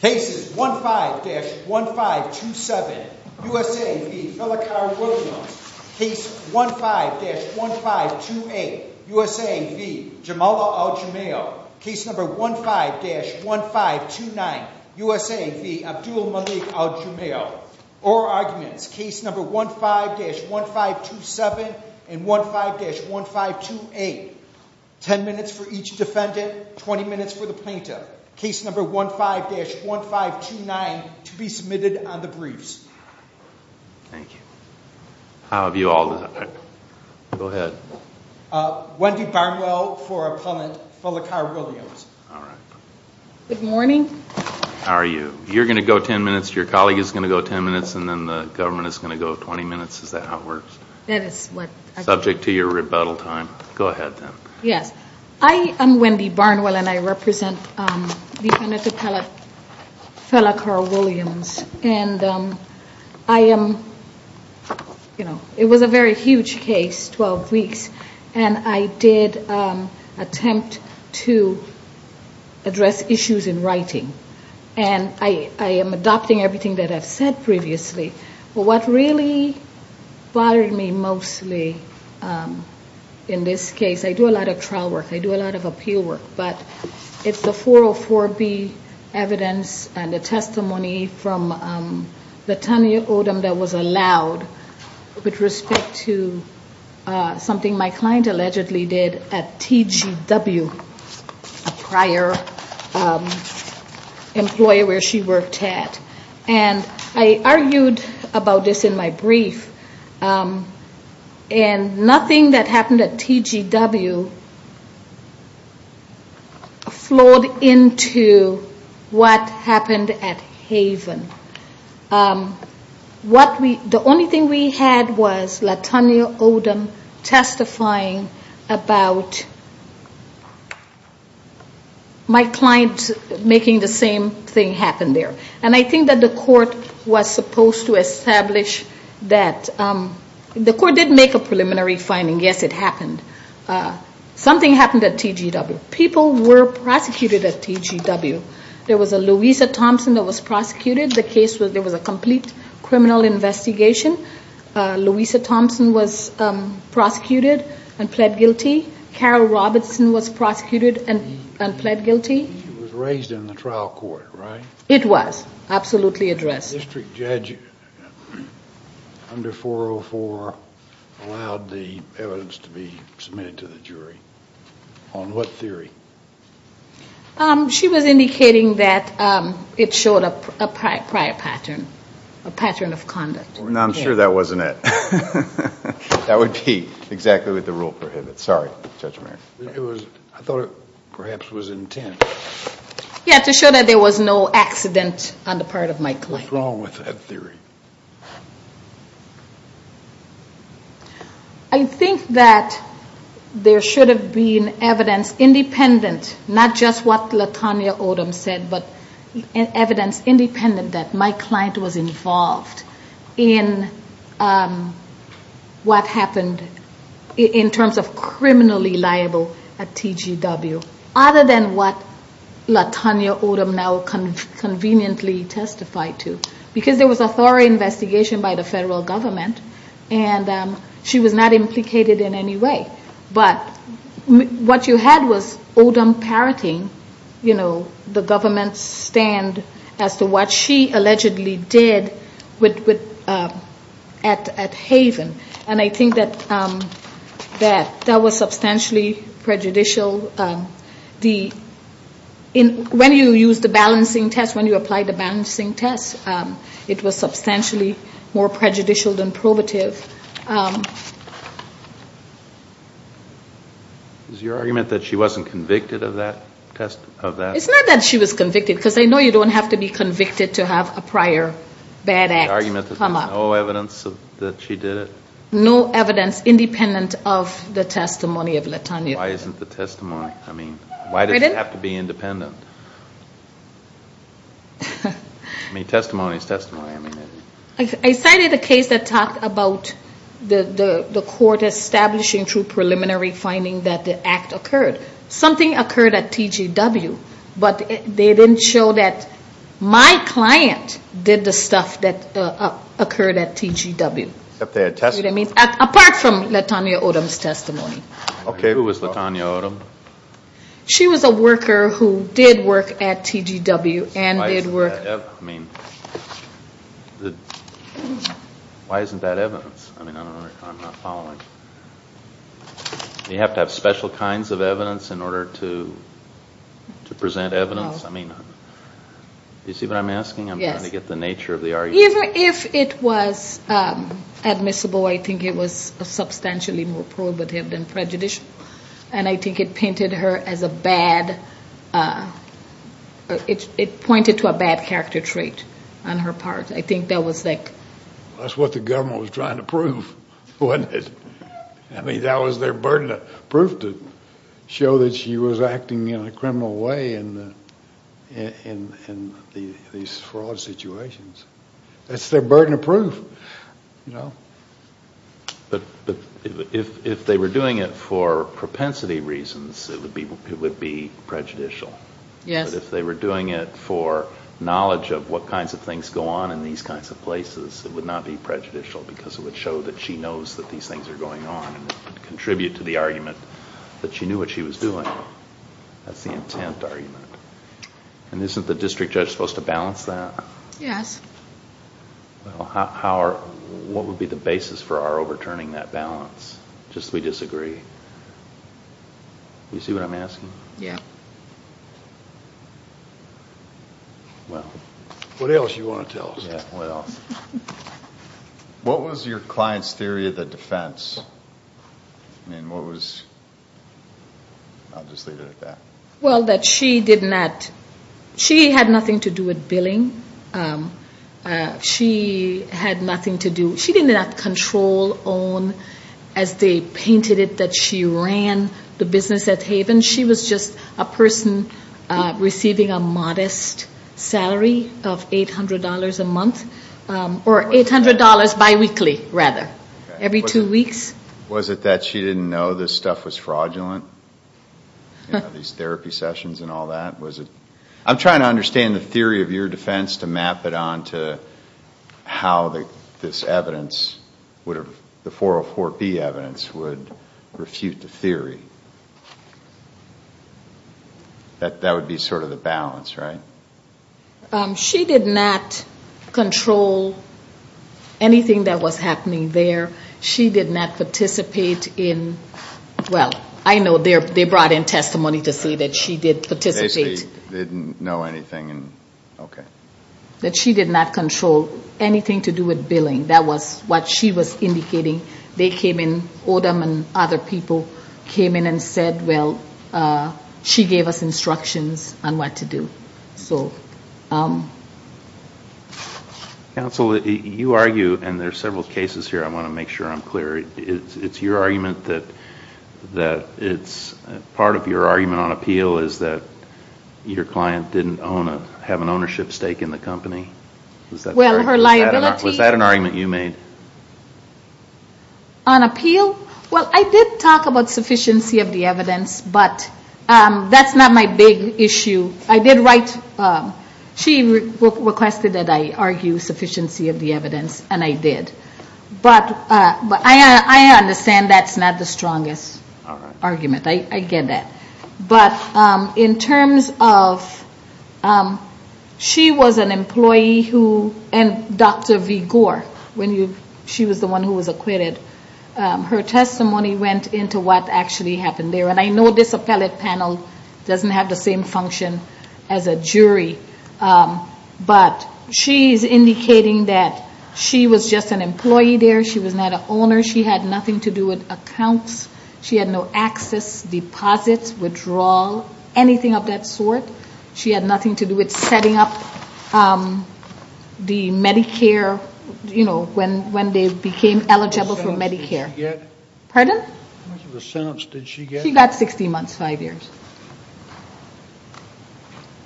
Case No. 15-1529 USA v. Abdul-Malik Al-Jumail Oral Arguments Case No. 15-1527 and 15-1528 10 minutes for each defendant, 20 minutes for the plaintiff. Case No. 15-1529 to be submitted on the briefs. Thank you. How have you all done? Go ahead. Wendy Barnwell for Appellant Felicar Williams. Good morning. How are you? You're going to go 10 minutes, your colleague is going to go 10 minutes, and then the government is going to go 20 minutes. Is that how it works? Subject to your rebuttal time. Go ahead then. Yes. I am Wendy Barnwell and I represent defendant Appellant Felicar Williams. And I am, you know, it was a very huge case, 12 weeks, and I did attempt to address issues in writing. And I am adopting everything that I've said previously. But what really bothered me mostly in this case, I do a lot of trial work, I do a lot of appeal work, but it's the 404B evidence and the testimony from the Tanya Odom that was allowed with respect to something my client allegedly did at TGW, a prior employer where she worked at. And I argued about this in my brief. And nothing that happened at TGW flowed into what happened at Haven. The only thing we had was the Tanya Odom testifying about my client making the same thing happen there. And I think that the court was supposed to establish that the court did make a preliminary finding, yes, it happened. Something happened at TGW. People were prosecuted at TGW. There was a Louisa Thompson that was prosecuted. The case was, there was a complete criminal investigation. Louisa Thompson was prosecuted and pled guilty. Carol Robertson was prosecuted and pled guilty. She was raised in the trial court, right? It was. Absolutely addressed. The district judge under 404 allowed the evidence to be submitted to the jury. On what theory? She was indicating that it showed a prior pattern, a pattern of conduct. I'm sure that wasn't it. That would be exactly what the rule prohibits. Sorry, Judge Mayer. I thought it perhaps was intent. Yeah, to show that there was no accident on the part of my client. What's wrong with that theory? I think that there should have been evidence independent, not just what LaTanya Odom said, but evidence independent that my client was involved in what happened in terms of criminally liable at TGW. Other than what LaTanya Odom now conveniently testified to. Because there was a thorough investigation by the federal government, and she was not implicated in any way. But what you had was Odom parroting the government's stand as to what she allegedly did at Haven. And I think that that was substantially prejudicial. When you use the balancing test, when you apply the balancing test, it was substantially more prejudicial than probative. Is your argument that she wasn't convicted of that? It's not that she was convicted, because I know you don't have to be convicted to have a prior bad act come up. The argument that there's no evidence that she did it? No evidence independent of the testimony of LaTanya. Why isn't the testimony? I mean, why does it have to be independent? I mean, testimony is testimony. I cited a case that talked about the court establishing through preliminary finding that the act occurred. Something occurred at TGW, but they didn't show that my client did the stuff that occurred at TGW. Apart from LaTanya Odom's testimony. Okay. Who was LaTanya Odom? She was a worker who did work at TGW and did work. I mean, why isn't that evidence? I mean, I don't know. I'm not following. Do you have to have special kinds of evidence in order to present evidence? I mean, do you see what I'm asking? I'm trying to get the nature of the argument. Even if it was admissible, I think it was substantially more probative than prejudicial. And I think it pointed to a bad character trait on her part. I think that was like... That's what the government was trying to prove, wasn't it? I mean, that was their burden of proof to show that she was acting in a criminal way in these fraud situations. That's their burden of proof. But if they were doing it for propensity reasons, it would be prejudicial. Yes. But if they were doing it for knowledge of what kinds of things go on in these kinds of places, it would not be prejudicial because it would show that she knows that these things are going on and contribute to the argument that she knew what she was doing. That's the intent argument. And isn't the district judge supposed to balance that? Yes. Well, what would be the basis for our overturning that balance? Just that we disagree. Do you see what I'm asking? Yeah. Well... What else do you want to tell us? Yeah, what else? What was your client's theory of the defense? I mean, what was... I'll just leave it at that. Well, that she did not... She had nothing to do with billing. She had nothing to do... She did not control, own, as they painted it, that she ran the business at Haven. She was just a person receiving a modest salary of $800 a month. Or $800 biweekly, rather. Every two weeks. Was it that she didn't know this stuff was fraudulent? You know, these therapy sessions and all that? Was it... I'm trying to understand the theory of your defense to map it on to how this evidence would... That would be sort of the balance, right? She did not control anything that was happening there. She did not participate in... Well, I know they brought in testimony to say that she did participate. Basically, they didn't know anything. Okay. That she did not control anything to do with billing. That was what she was indicating. Odom and other people came in and said, well, she gave us instructions on what to do. Counsel, you argue, and there are several cases here, I want to make sure I'm clear. It's your argument that it's... Part of your argument on appeal is that your client didn't have an ownership stake in the company? Well, her liability... Was that an argument you made? On appeal? Well, I did talk about sufficiency of the evidence, but that's not my big issue. I did write... She requested that I argue sufficiency of the evidence, and I did. But I understand that's not the strongest argument. I get that. But in terms of... She was an employee who... And Dr. V. Gore, when she was the one who was acquitted, her testimony went into what actually happened there. And I know this appellate panel doesn't have the same function as a jury. But she's indicating that she was just an employee there. She was not an owner. She had nothing to do with accounts. She had no access, deposits, withdrawal, anything of that sort. She had nothing to do with setting up the Medicare, you know, when they became eligible for Medicare. How much of a sentence did she get? Pardon? How much of a sentence did she get? She got 16 months, five years.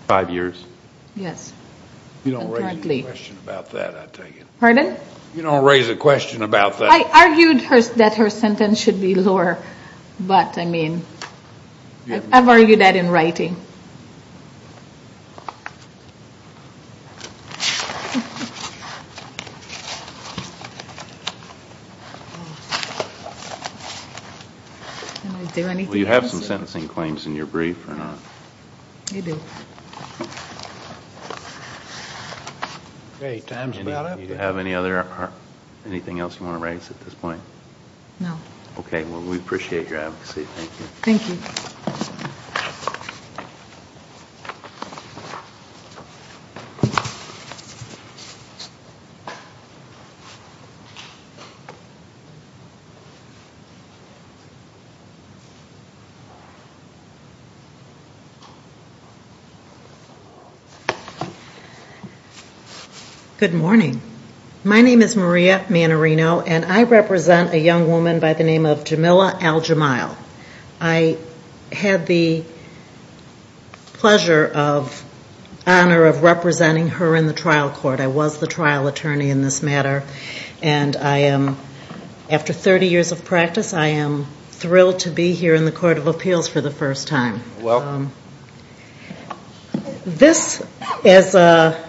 Five years? Yes. You don't raise a question about that, I tell you. Pardon? You don't raise a question about that. I argued that her sentence should be lower. But, I mean, I've argued that in writing. Do you have some sentencing claims in your brief or not? I do. Okay. Time's about up. Do you have anything else you want to raise at this point? No. Okay. Well, we appreciate your advocacy. Thank you. Thank you. Good morning. My name is Maria Manarino, and I represent a young woman by the name of Jamila Al-Jamail. I had the pleasure of, honor of representing her in the trial court. I was the trial attorney in this matter. And I am, after 30 years of practice, I am thrilled to be here in the Court of Appeals for the first time. Well. This is a,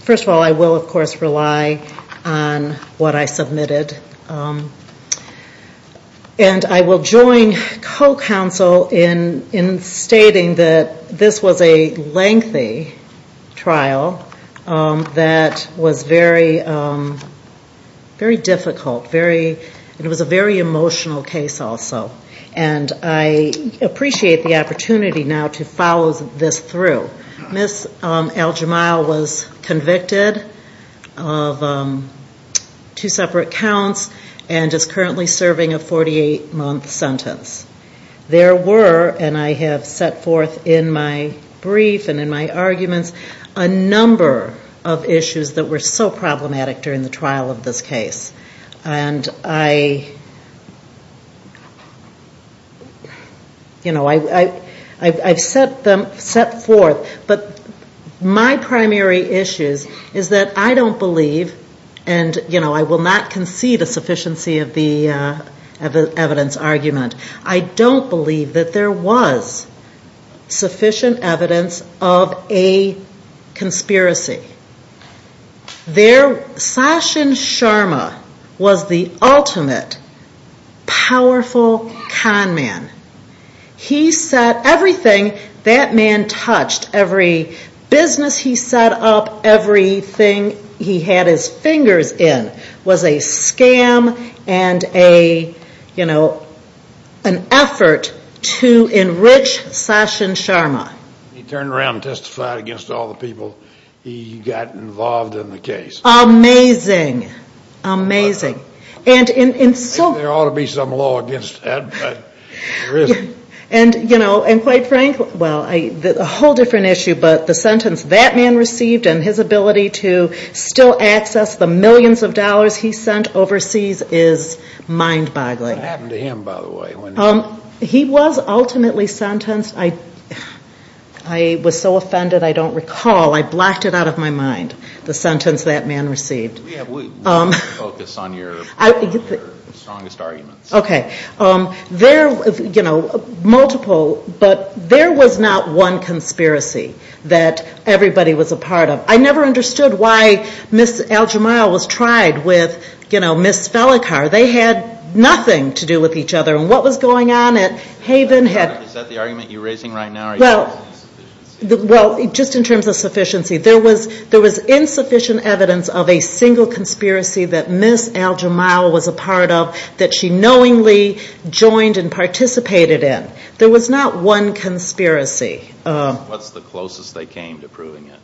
first of all, I will, of course, rely on what I submitted. And I will join co-counsel in stating that this was a lengthy trial that was very, very difficult, very, and it was a very emotional case also. And I appreciate the opportunity now to follow this through. Ms. Al-Jamail was convicted of two separate counts and is currently serving a 48-month sentence. There were, and I have set forth in my brief and in my arguments, a number of issues that were so problematic during the trial of this case. And I, you know, I've set forth, but my primary issues is that I don't believe, and, you know, I will not concede a sufficiency of the evidence argument. I don't believe that there was sufficient evidence of a conspiracy. There, Sachin Sharma was the ultimate powerful con man. He set everything that man touched, every business he set up, everything he had his fingers in, was a scam and a, you know, an effort to enrich Sachin Sharma. He turned around and testified against all the people he got involved in the case. Amazing. Amazing. And there ought to be some law against that, but there isn't. And, you know, and quite frankly, well, a whole different issue, but the sentence that man received and his ability to still access the millions of dollars he sent overseas is mind-boggling. What happened to him, by the way? He was ultimately sentenced. I was so offended I don't recall. I blocked it out of my mind, the sentence that man received. We have to focus on your strongest arguments. Okay. There, you know, multiple, but there was not one conspiracy that everybody was a part of. I never understood why Ms. Al-Jamal was tried with, you know, Ms. Felicar. They had nothing to do with each other. And what was going on at Haven had- Is that the argument you're raising right now? Well, just in terms of sufficiency, there was insufficient evidence of a single conspiracy that Ms. Al-Jamal was a part of that she knowingly joined and participated in. There was not one conspiracy. What's the closest they came to proving it?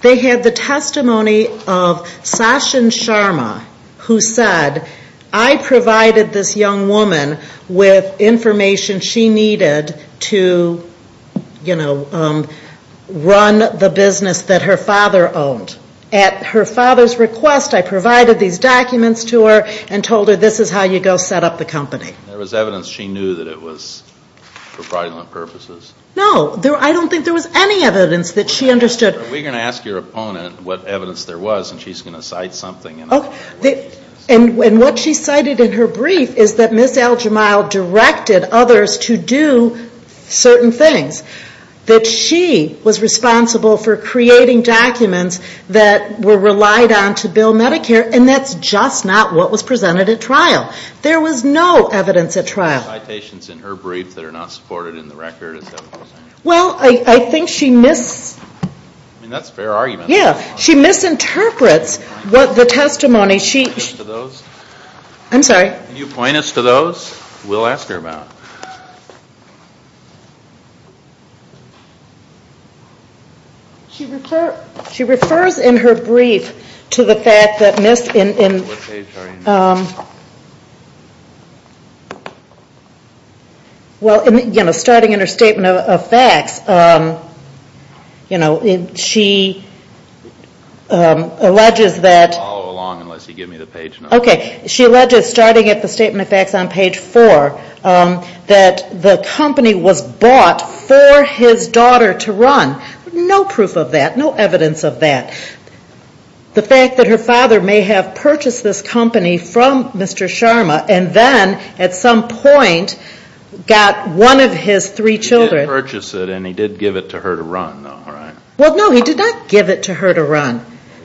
They had the testimony of Sachin Sharma who said, I provided this young woman with information she needed to, you know, run the business that her father owned. At her father's request, I provided these documents to her and told her this is how you go set up the company. There was evidence she knew that it was for fraudulent purposes. No, I don't think there was any evidence that she understood. We're going to ask your opponent what evidence there was and she's going to cite something. And what she cited in her brief is that Ms. Al-Jamal directed others to do certain things. That she was responsible for creating documents that were relied on to bill Medicare and that's just not what was presented at trial. There was no evidence at trial. Are there any citations in her brief that are not supported in the record? Well, I think she mis- I mean, that's a fair argument. Yeah, she misinterprets the testimony. Can you point us to those? I'm sorry? Can you point us to those? We'll ask her about them. She refers in her brief to the fact that Ms. What page are you on? Well, you know, starting in her statement of facts, you know, she alleges that- You can't follow along unless you give me the page number. Okay. Starting at the statement of facts on page four, that the company was bought for his daughter to run. No proof of that. No evidence of that. The fact that her father may have purchased this company from Mr. Sharma and then at some point got one of his three children- He did purchase it and he did give it to her to run, though, right?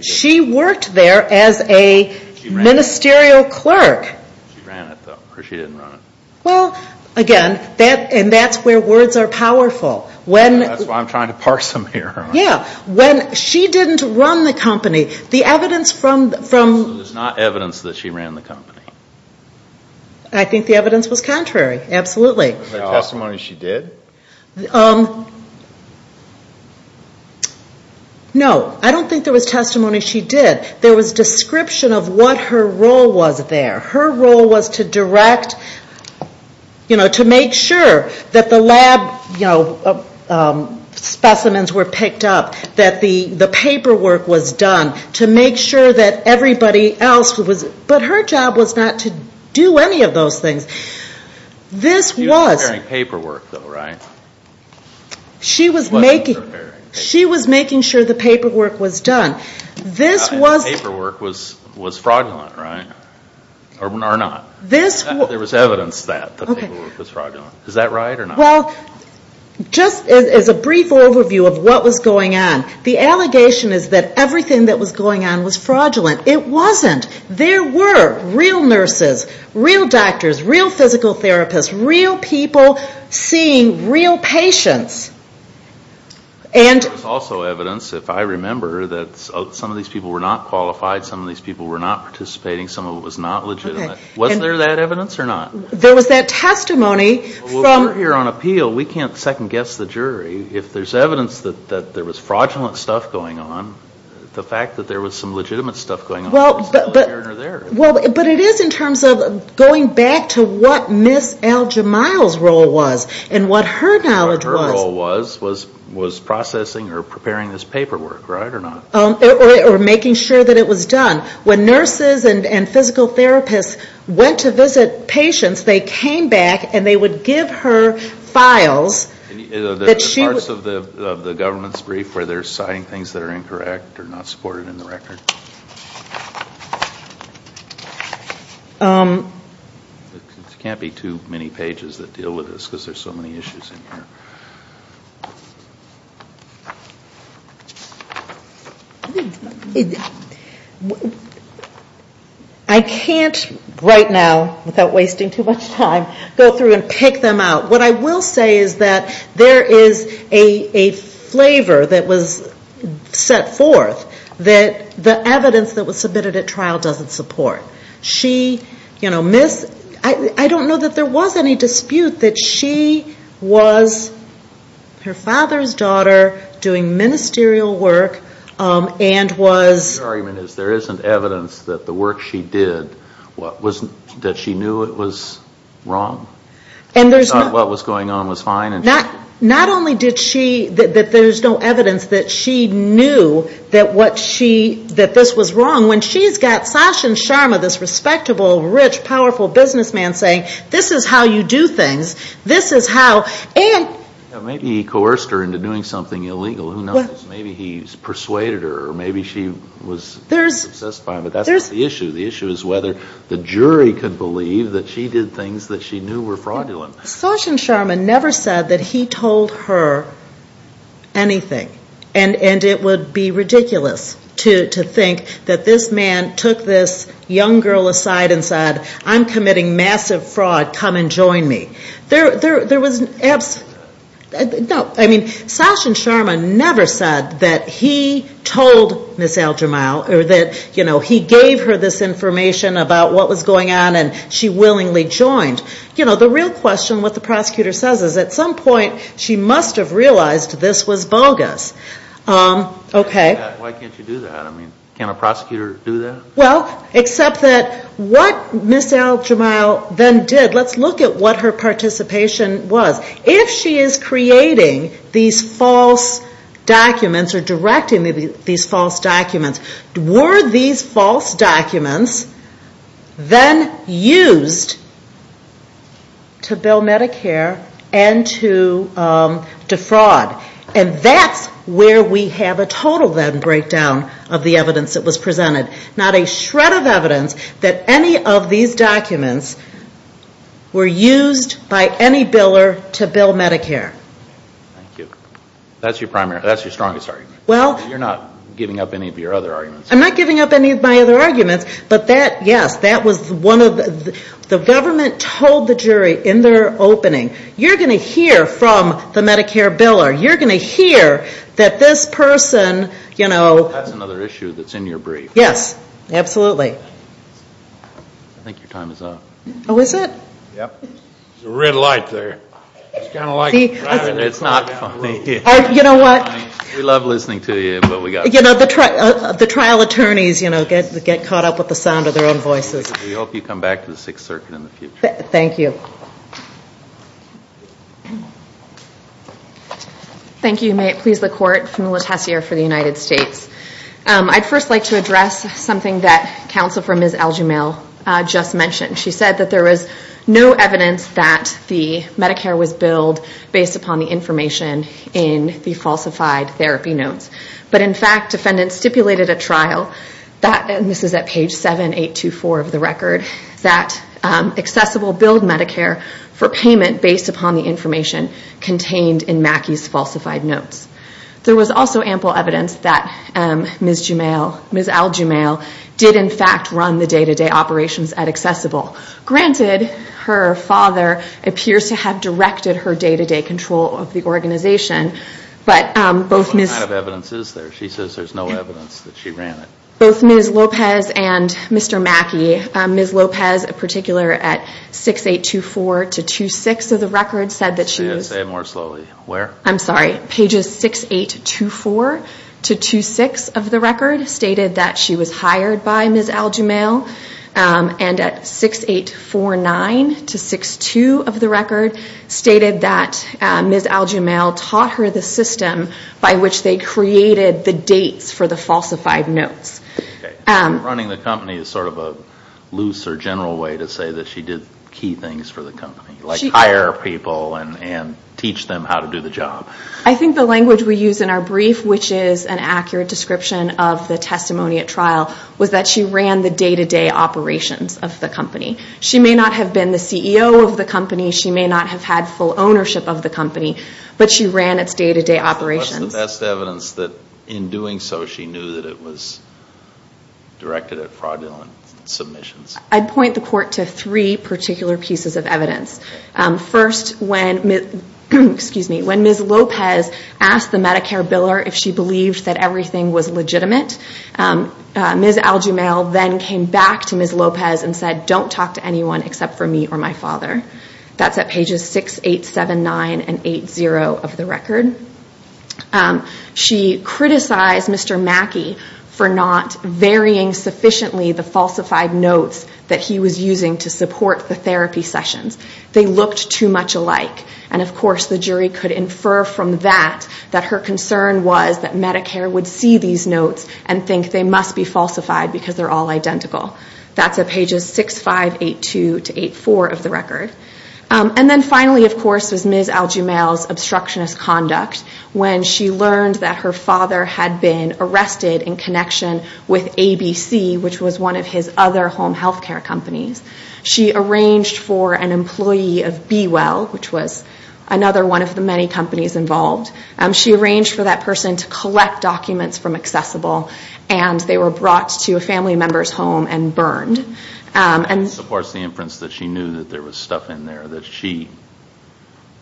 She worked there as a ministerial clerk. She ran it, though, or she didn't run it. Well, again, and that's where words are powerful. That's why I'm trying to parse them here. Yeah, when she didn't run the company, the evidence from- So there's not evidence that she ran the company? I think the evidence was contrary, absolutely. Was there testimony she did? No. I don't think there was testimony she did. There was description of what her role was there. Her role was to direct, you know, to make sure that the lab specimens were picked up, that the paperwork was done to make sure that everybody else was- But her job was not to do any of those things. She was preparing paperwork, though, right? She was making sure the paperwork was done. The paperwork was fraudulent, right, or not? There was evidence that the paperwork was fraudulent. Is that right or not? Well, just as a brief overview of what was going on, the allegation is that everything that was going on was fraudulent. It wasn't. There were real nurses, real doctors, real physical therapists, real people seeing real patients, and- There was also evidence, if I remember, that some of these people were not qualified, some of these people were not participating, some of it was not legitimate. Was there that evidence or not? There was that testimony from- Well, we're here on appeal. We can't second-guess the jury. If there's evidence that there was fraudulent stuff going on, the fact that there was some legitimate stuff going on is either here or there. Well, but it is in terms of going back to what Ms. Al-Jamal's role was and what her knowledge was. Her role was processing or preparing this paperwork, right, or not? Or making sure that it was done. When nurses and physical therapists went to visit patients, they came back and they would give her files that she- Are there parts of the government's brief where they're citing things that are incorrect or not supported in the record? There can't be too many pages that deal with this because there's so many issues in here. I can't right now, without wasting too much time, go through and pick them out. What I will say is that there is a flavor that was set forth that the evidence that was submitted at trial doesn't support. I don't know that there was any dispute that she was her father's daughter doing ministerial work and was- Your argument is there isn't evidence that the work she did, that she knew it was wrong? She thought what was going on was fine? Not only did she-that there's no evidence that she knew that this was wrong. When she's got Sachin Sharma, this respectable, rich, powerful businessman, saying, this is how you do things, this is how- Maybe he coerced her into doing something illegal. Who knows? Maybe he persuaded her or maybe she was obsessed by him. But that's not the issue. The issue is whether the jury could believe that she did things that she knew were fraudulent. Sachin Sharma never said that he told her anything. And it would be ridiculous to think that this man took this young girl aside and said, I'm committing massive fraud. Come and join me. Sachin Sharma never said that he told Ms. Al-Jamal or that he gave her this information about what was going on and she willingly joined. The real question, what the prosecutor says, is at some point she must have realized this was bogus. Why can't you do that? Can a prosecutor do that? Well, except that what Ms. Al-Jamal then did, let's look at what her participation was. If she is creating these false documents or directing these false documents, were these false documents then used to bill Medicare and to defraud? And that's where we have a total then breakdown of the evidence that was presented. Not a shred of evidence that any of these documents were used by any biller to bill Medicare. Thank you. That's your strongest argument. You're not giving up any of your other arguments. I'm not giving up any of my other arguments. But that, yes, that was one of the, the government told the jury in their opening, you're going to hear from the Medicare biller. You're going to hear that this person, you know. That's another issue that's in your brief. Yes. Absolutely. I think your time is up. Oh, is it? Yep. There's a red light there. It's kind of like. It's not funny. You know what? We love listening to you, but we got to go. You know, the trial attorneys, you know, get caught up with the sound of their own voices. We hope you come back to the Sixth Circuit in the future. Thank you. Thank you. May it please the Court, Pamela Tessier for the United States. I'd first like to address something that counsel for Ms. Algemail just mentioned. She said that there was no evidence that the Medicare was billed based upon the information in the falsified therapy notes. But, in fact, defendants stipulated at trial, and this is at page 7824 of the record, that Accessible billed Medicare for payment based upon the information contained in Mackey's falsified notes. There was also ample evidence that Ms. Algemail did, in fact, run the day-to-day operations at Accessible. Granted, her father appears to have directed her day-to-day control of the organization, but both Ms. What kind of evidence is there? She says there's no evidence that she ran it. Both Ms. Lopez and Mr. Mackey, Ms. Lopez in particular at 6824-26 of the record said that she was Say it more slowly. Where? I'm sorry. Pages 6824-26 of the record stated that she was hired by Ms. Algemail, and at 6849-62 of the record stated that Ms. Algemail taught her the system by which they created the dates for the falsified notes. Running the company is sort of a looser general way to say that she did key things for the company, like hire people and teach them how to do the job. I think the language we use in our brief, which is an accurate description of the testimony at trial, was that she ran the day-to-day operations of the company. She may not have been the CEO of the company. She may not have had full ownership of the company, but she ran its day-to-day operations. That's the best evidence that in doing so she knew that it was directed at fraudulent submissions. I'd point the court to three particular pieces of evidence. First, when Ms. Lopez asked the Medicare biller if she believed that everything was legitimate, Ms. Algemail then came back to Ms. Lopez and said, I don't talk to anyone except for me or my father. That's at pages 6879 and 80 of the record. She criticized Mr. Mackey for not varying sufficiently the falsified notes that he was using to support the therapy sessions. They looked too much alike. And, of course, the jury could infer from that that her concern was that Medicare would see these notes and think they must be falsified because they're all identical. That's at pages 6582 to 84 of the record. And then finally, of course, was Ms. Algemail's obstructionist conduct when she learned that her father had been arrested in connection with ABC, which was one of his other home health care companies. She arranged for an employee of B-Well, which was another one of the many companies involved. She arranged for that person to collect documents from Accessible, and they were brought to a family member's home and burned. And, of course, the inference that she knew that there was stuff in there.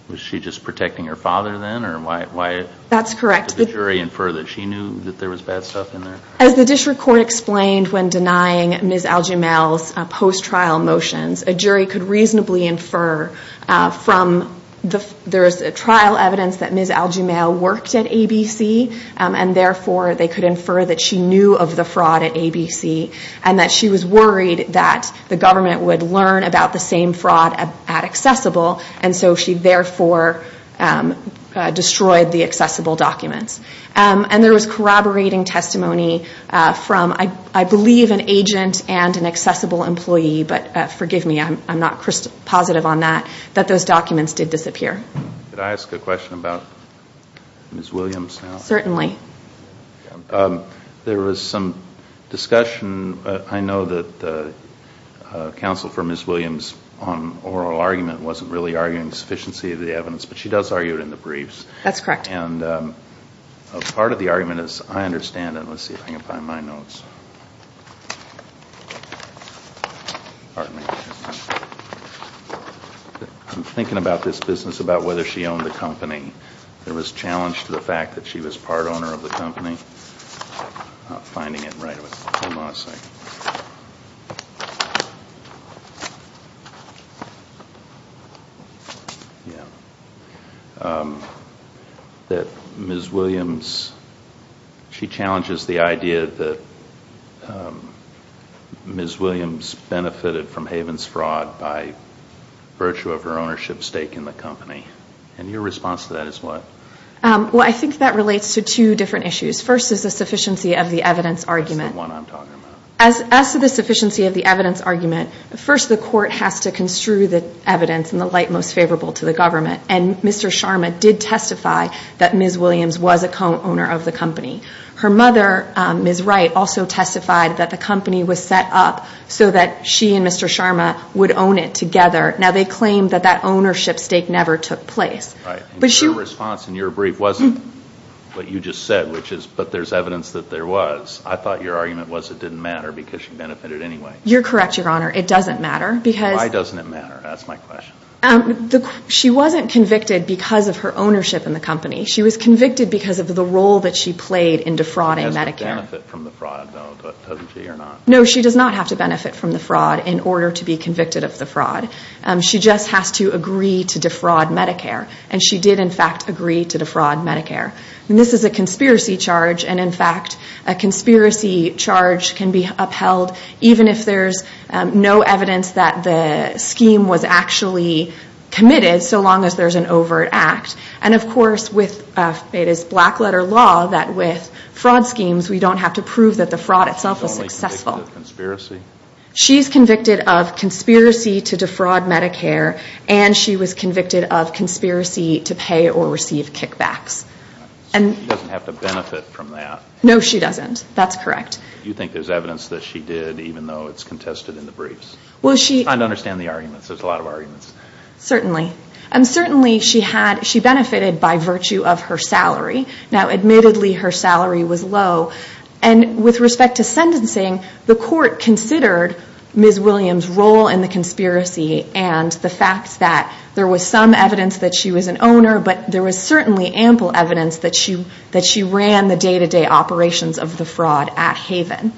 Was she just protecting her father then? That's correct. Did the jury infer that she knew that there was bad stuff in there? As the district court explained when denying Ms. Algemail's post-trial motions, a jury could reasonably infer from the trial evidence that Ms. Algemail worked at ABC, and therefore they could infer that she knew of the fraud at ABC, and that she was worried that the government would learn about the same fraud at Accessible, and so she therefore destroyed the Accessible documents. And there was corroborating testimony from, I believe, an agent and an Accessible employee, but forgive me, I'm not positive on that, that those documents did disappear. Could I ask a question about Ms. Williams now? Certainly. There was some discussion. I know that counsel for Ms. Williams on oral argument wasn't really arguing sufficiency of the evidence, but she does argue it in the briefs. That's correct. And part of the argument, as I understand it, let's see if I can find my notes. Pardon me. I'm thinking about this business about whether she owned the company. There was challenge to the fact that she was part owner of the company. I'm not finding it right. Hold on a second. Yeah. That Ms. Williams, she challenges the idea that Ms. Williams benefited from Haven's fraud by virtue of her ownership stake in the company. And your response to that is what? Well, I think that relates to two different issues. First is the sufficiency of the evidence argument. That's the one I'm talking about. As to the sufficiency of the evidence argument, first the court has to construe the evidence in the light most favorable to the government. And Mr. Sharma did testify that Ms. Williams was a co-owner of the company. Her mother, Ms. Wright, also testified that the company was set up so that she and Mr. Sharma would own it together. Now, they claim that that ownership stake never took place. Right. And your response in your brief wasn't what you just said, which is, but there's evidence that there was. I thought your argument was it didn't matter because she benefited anyway. You're correct, Your Honor. It doesn't matter. Why doesn't it matter? Ask my question. She wasn't convicted because of her ownership in the company. She was convicted because of the role that she played in defrauding Medicare. She doesn't benefit from the fraud, though, does she or not? No, she does not have to benefit from the fraud in order to be convicted of the fraud. She just has to agree to defraud Medicare. And she did, in fact, agree to defraud Medicare. And this is a conspiracy charge, and, in fact, a conspiracy charge can be upheld even if there's no evidence that the scheme was actually committed, so long as there's an overt act. And, of course, it is black-letter law that with fraud schemes, we don't have to prove that the fraud itself is successful. She's only convicted of conspiracy? to defraud Medicare, and she was convicted of conspiracy to pay or receive kickbacks. She doesn't have to benefit from that? No, she doesn't. That's correct. You think there's evidence that she did, even though it's contested in the briefs? Well, she – I don't understand the arguments. There's a lot of arguments. Certainly. Certainly, she benefited by virtue of her salary. Now, admittedly, her salary was low. And with respect to sentencing, the court considered Ms. Williams' role in the conspiracy and the fact that there was some evidence that she was an owner, but there was certainly ample evidence that she ran the day-to-day operations of the fraud at Haven.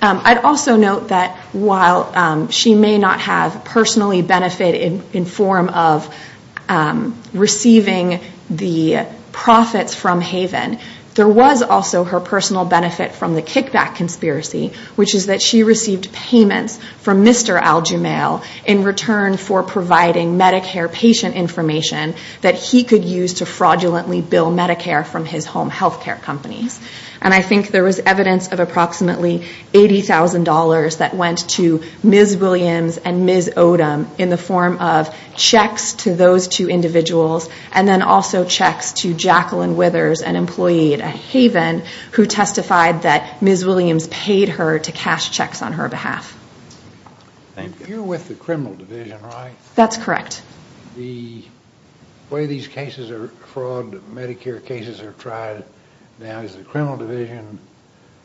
I'd also note that while she may not have personally benefited in form of receiving the profits from Haven, there was also her personal benefit from the kickback conspiracy, which is that she received payments from Mr. Al-Jumail in return for providing Medicare patient information that he could use to fraudulently bill Medicare from his home health care companies. And I think there was evidence of approximately $80,000 that went to Ms. Williams and Ms. Odom in the form of checks to those two individuals and then also checks to Jacqueline Withers, an employee at Haven, who testified that Ms. Williams paid her to cash checks on her behalf. Thank you. You're with the criminal division, right? That's correct. The way these cases are fraud, Medicare cases are tried, now is the criminal division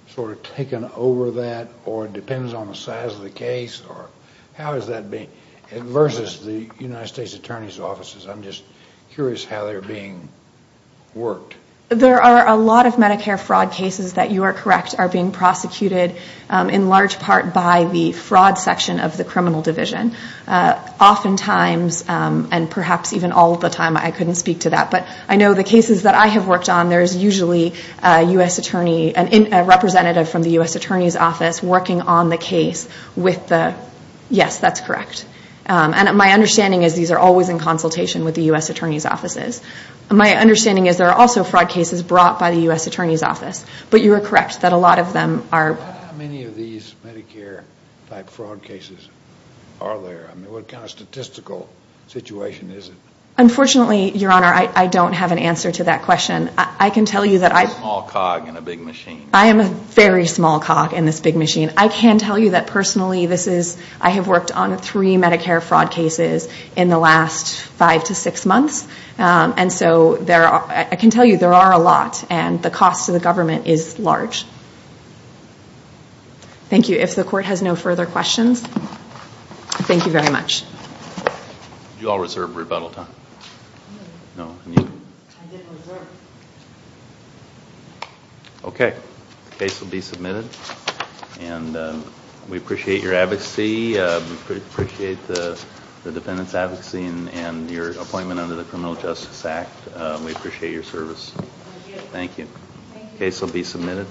sort of taken over that or depends on the size of the case? Or how is that versus the United States Attorney's offices? I'm just curious how they're being worked. There are a lot of Medicare fraud cases that, you are correct, are being prosecuted in large part by the fraud section of the criminal division. Oftentimes, and perhaps even all the time, I couldn't speak to that. But I know the cases that I have worked on, there is usually a representative from the U.S. Attorney's office working on the case with the, yes, that's correct. And my understanding is these are always in consultation with the U.S. Attorney's offices. My understanding is there are also fraud cases brought by the U.S. Attorney's office. But you are correct that a lot of them are. How many of these Medicare-type fraud cases are there? I mean, what kind of statistical situation is it? Unfortunately, Your Honor, I don't have an answer to that question. I can tell you that I've A small cog in a big machine. I am a very small cog in this big machine. I can tell you that personally, this is, I have worked on three Medicare fraud cases in the last five to six months. And so I can tell you there are a lot. And the cost to the government is large. Thank you. If the Court has no further questions, thank you very much. Did you all reserve rebuttal time? No. I didn't reserve. Okay. The case will be submitted. And we appreciate your advocacy. We appreciate the defendant's advocacy and your appointment under the Criminal Justice Act. We appreciate your service. Thank you. The case will be submitted.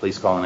Please call the next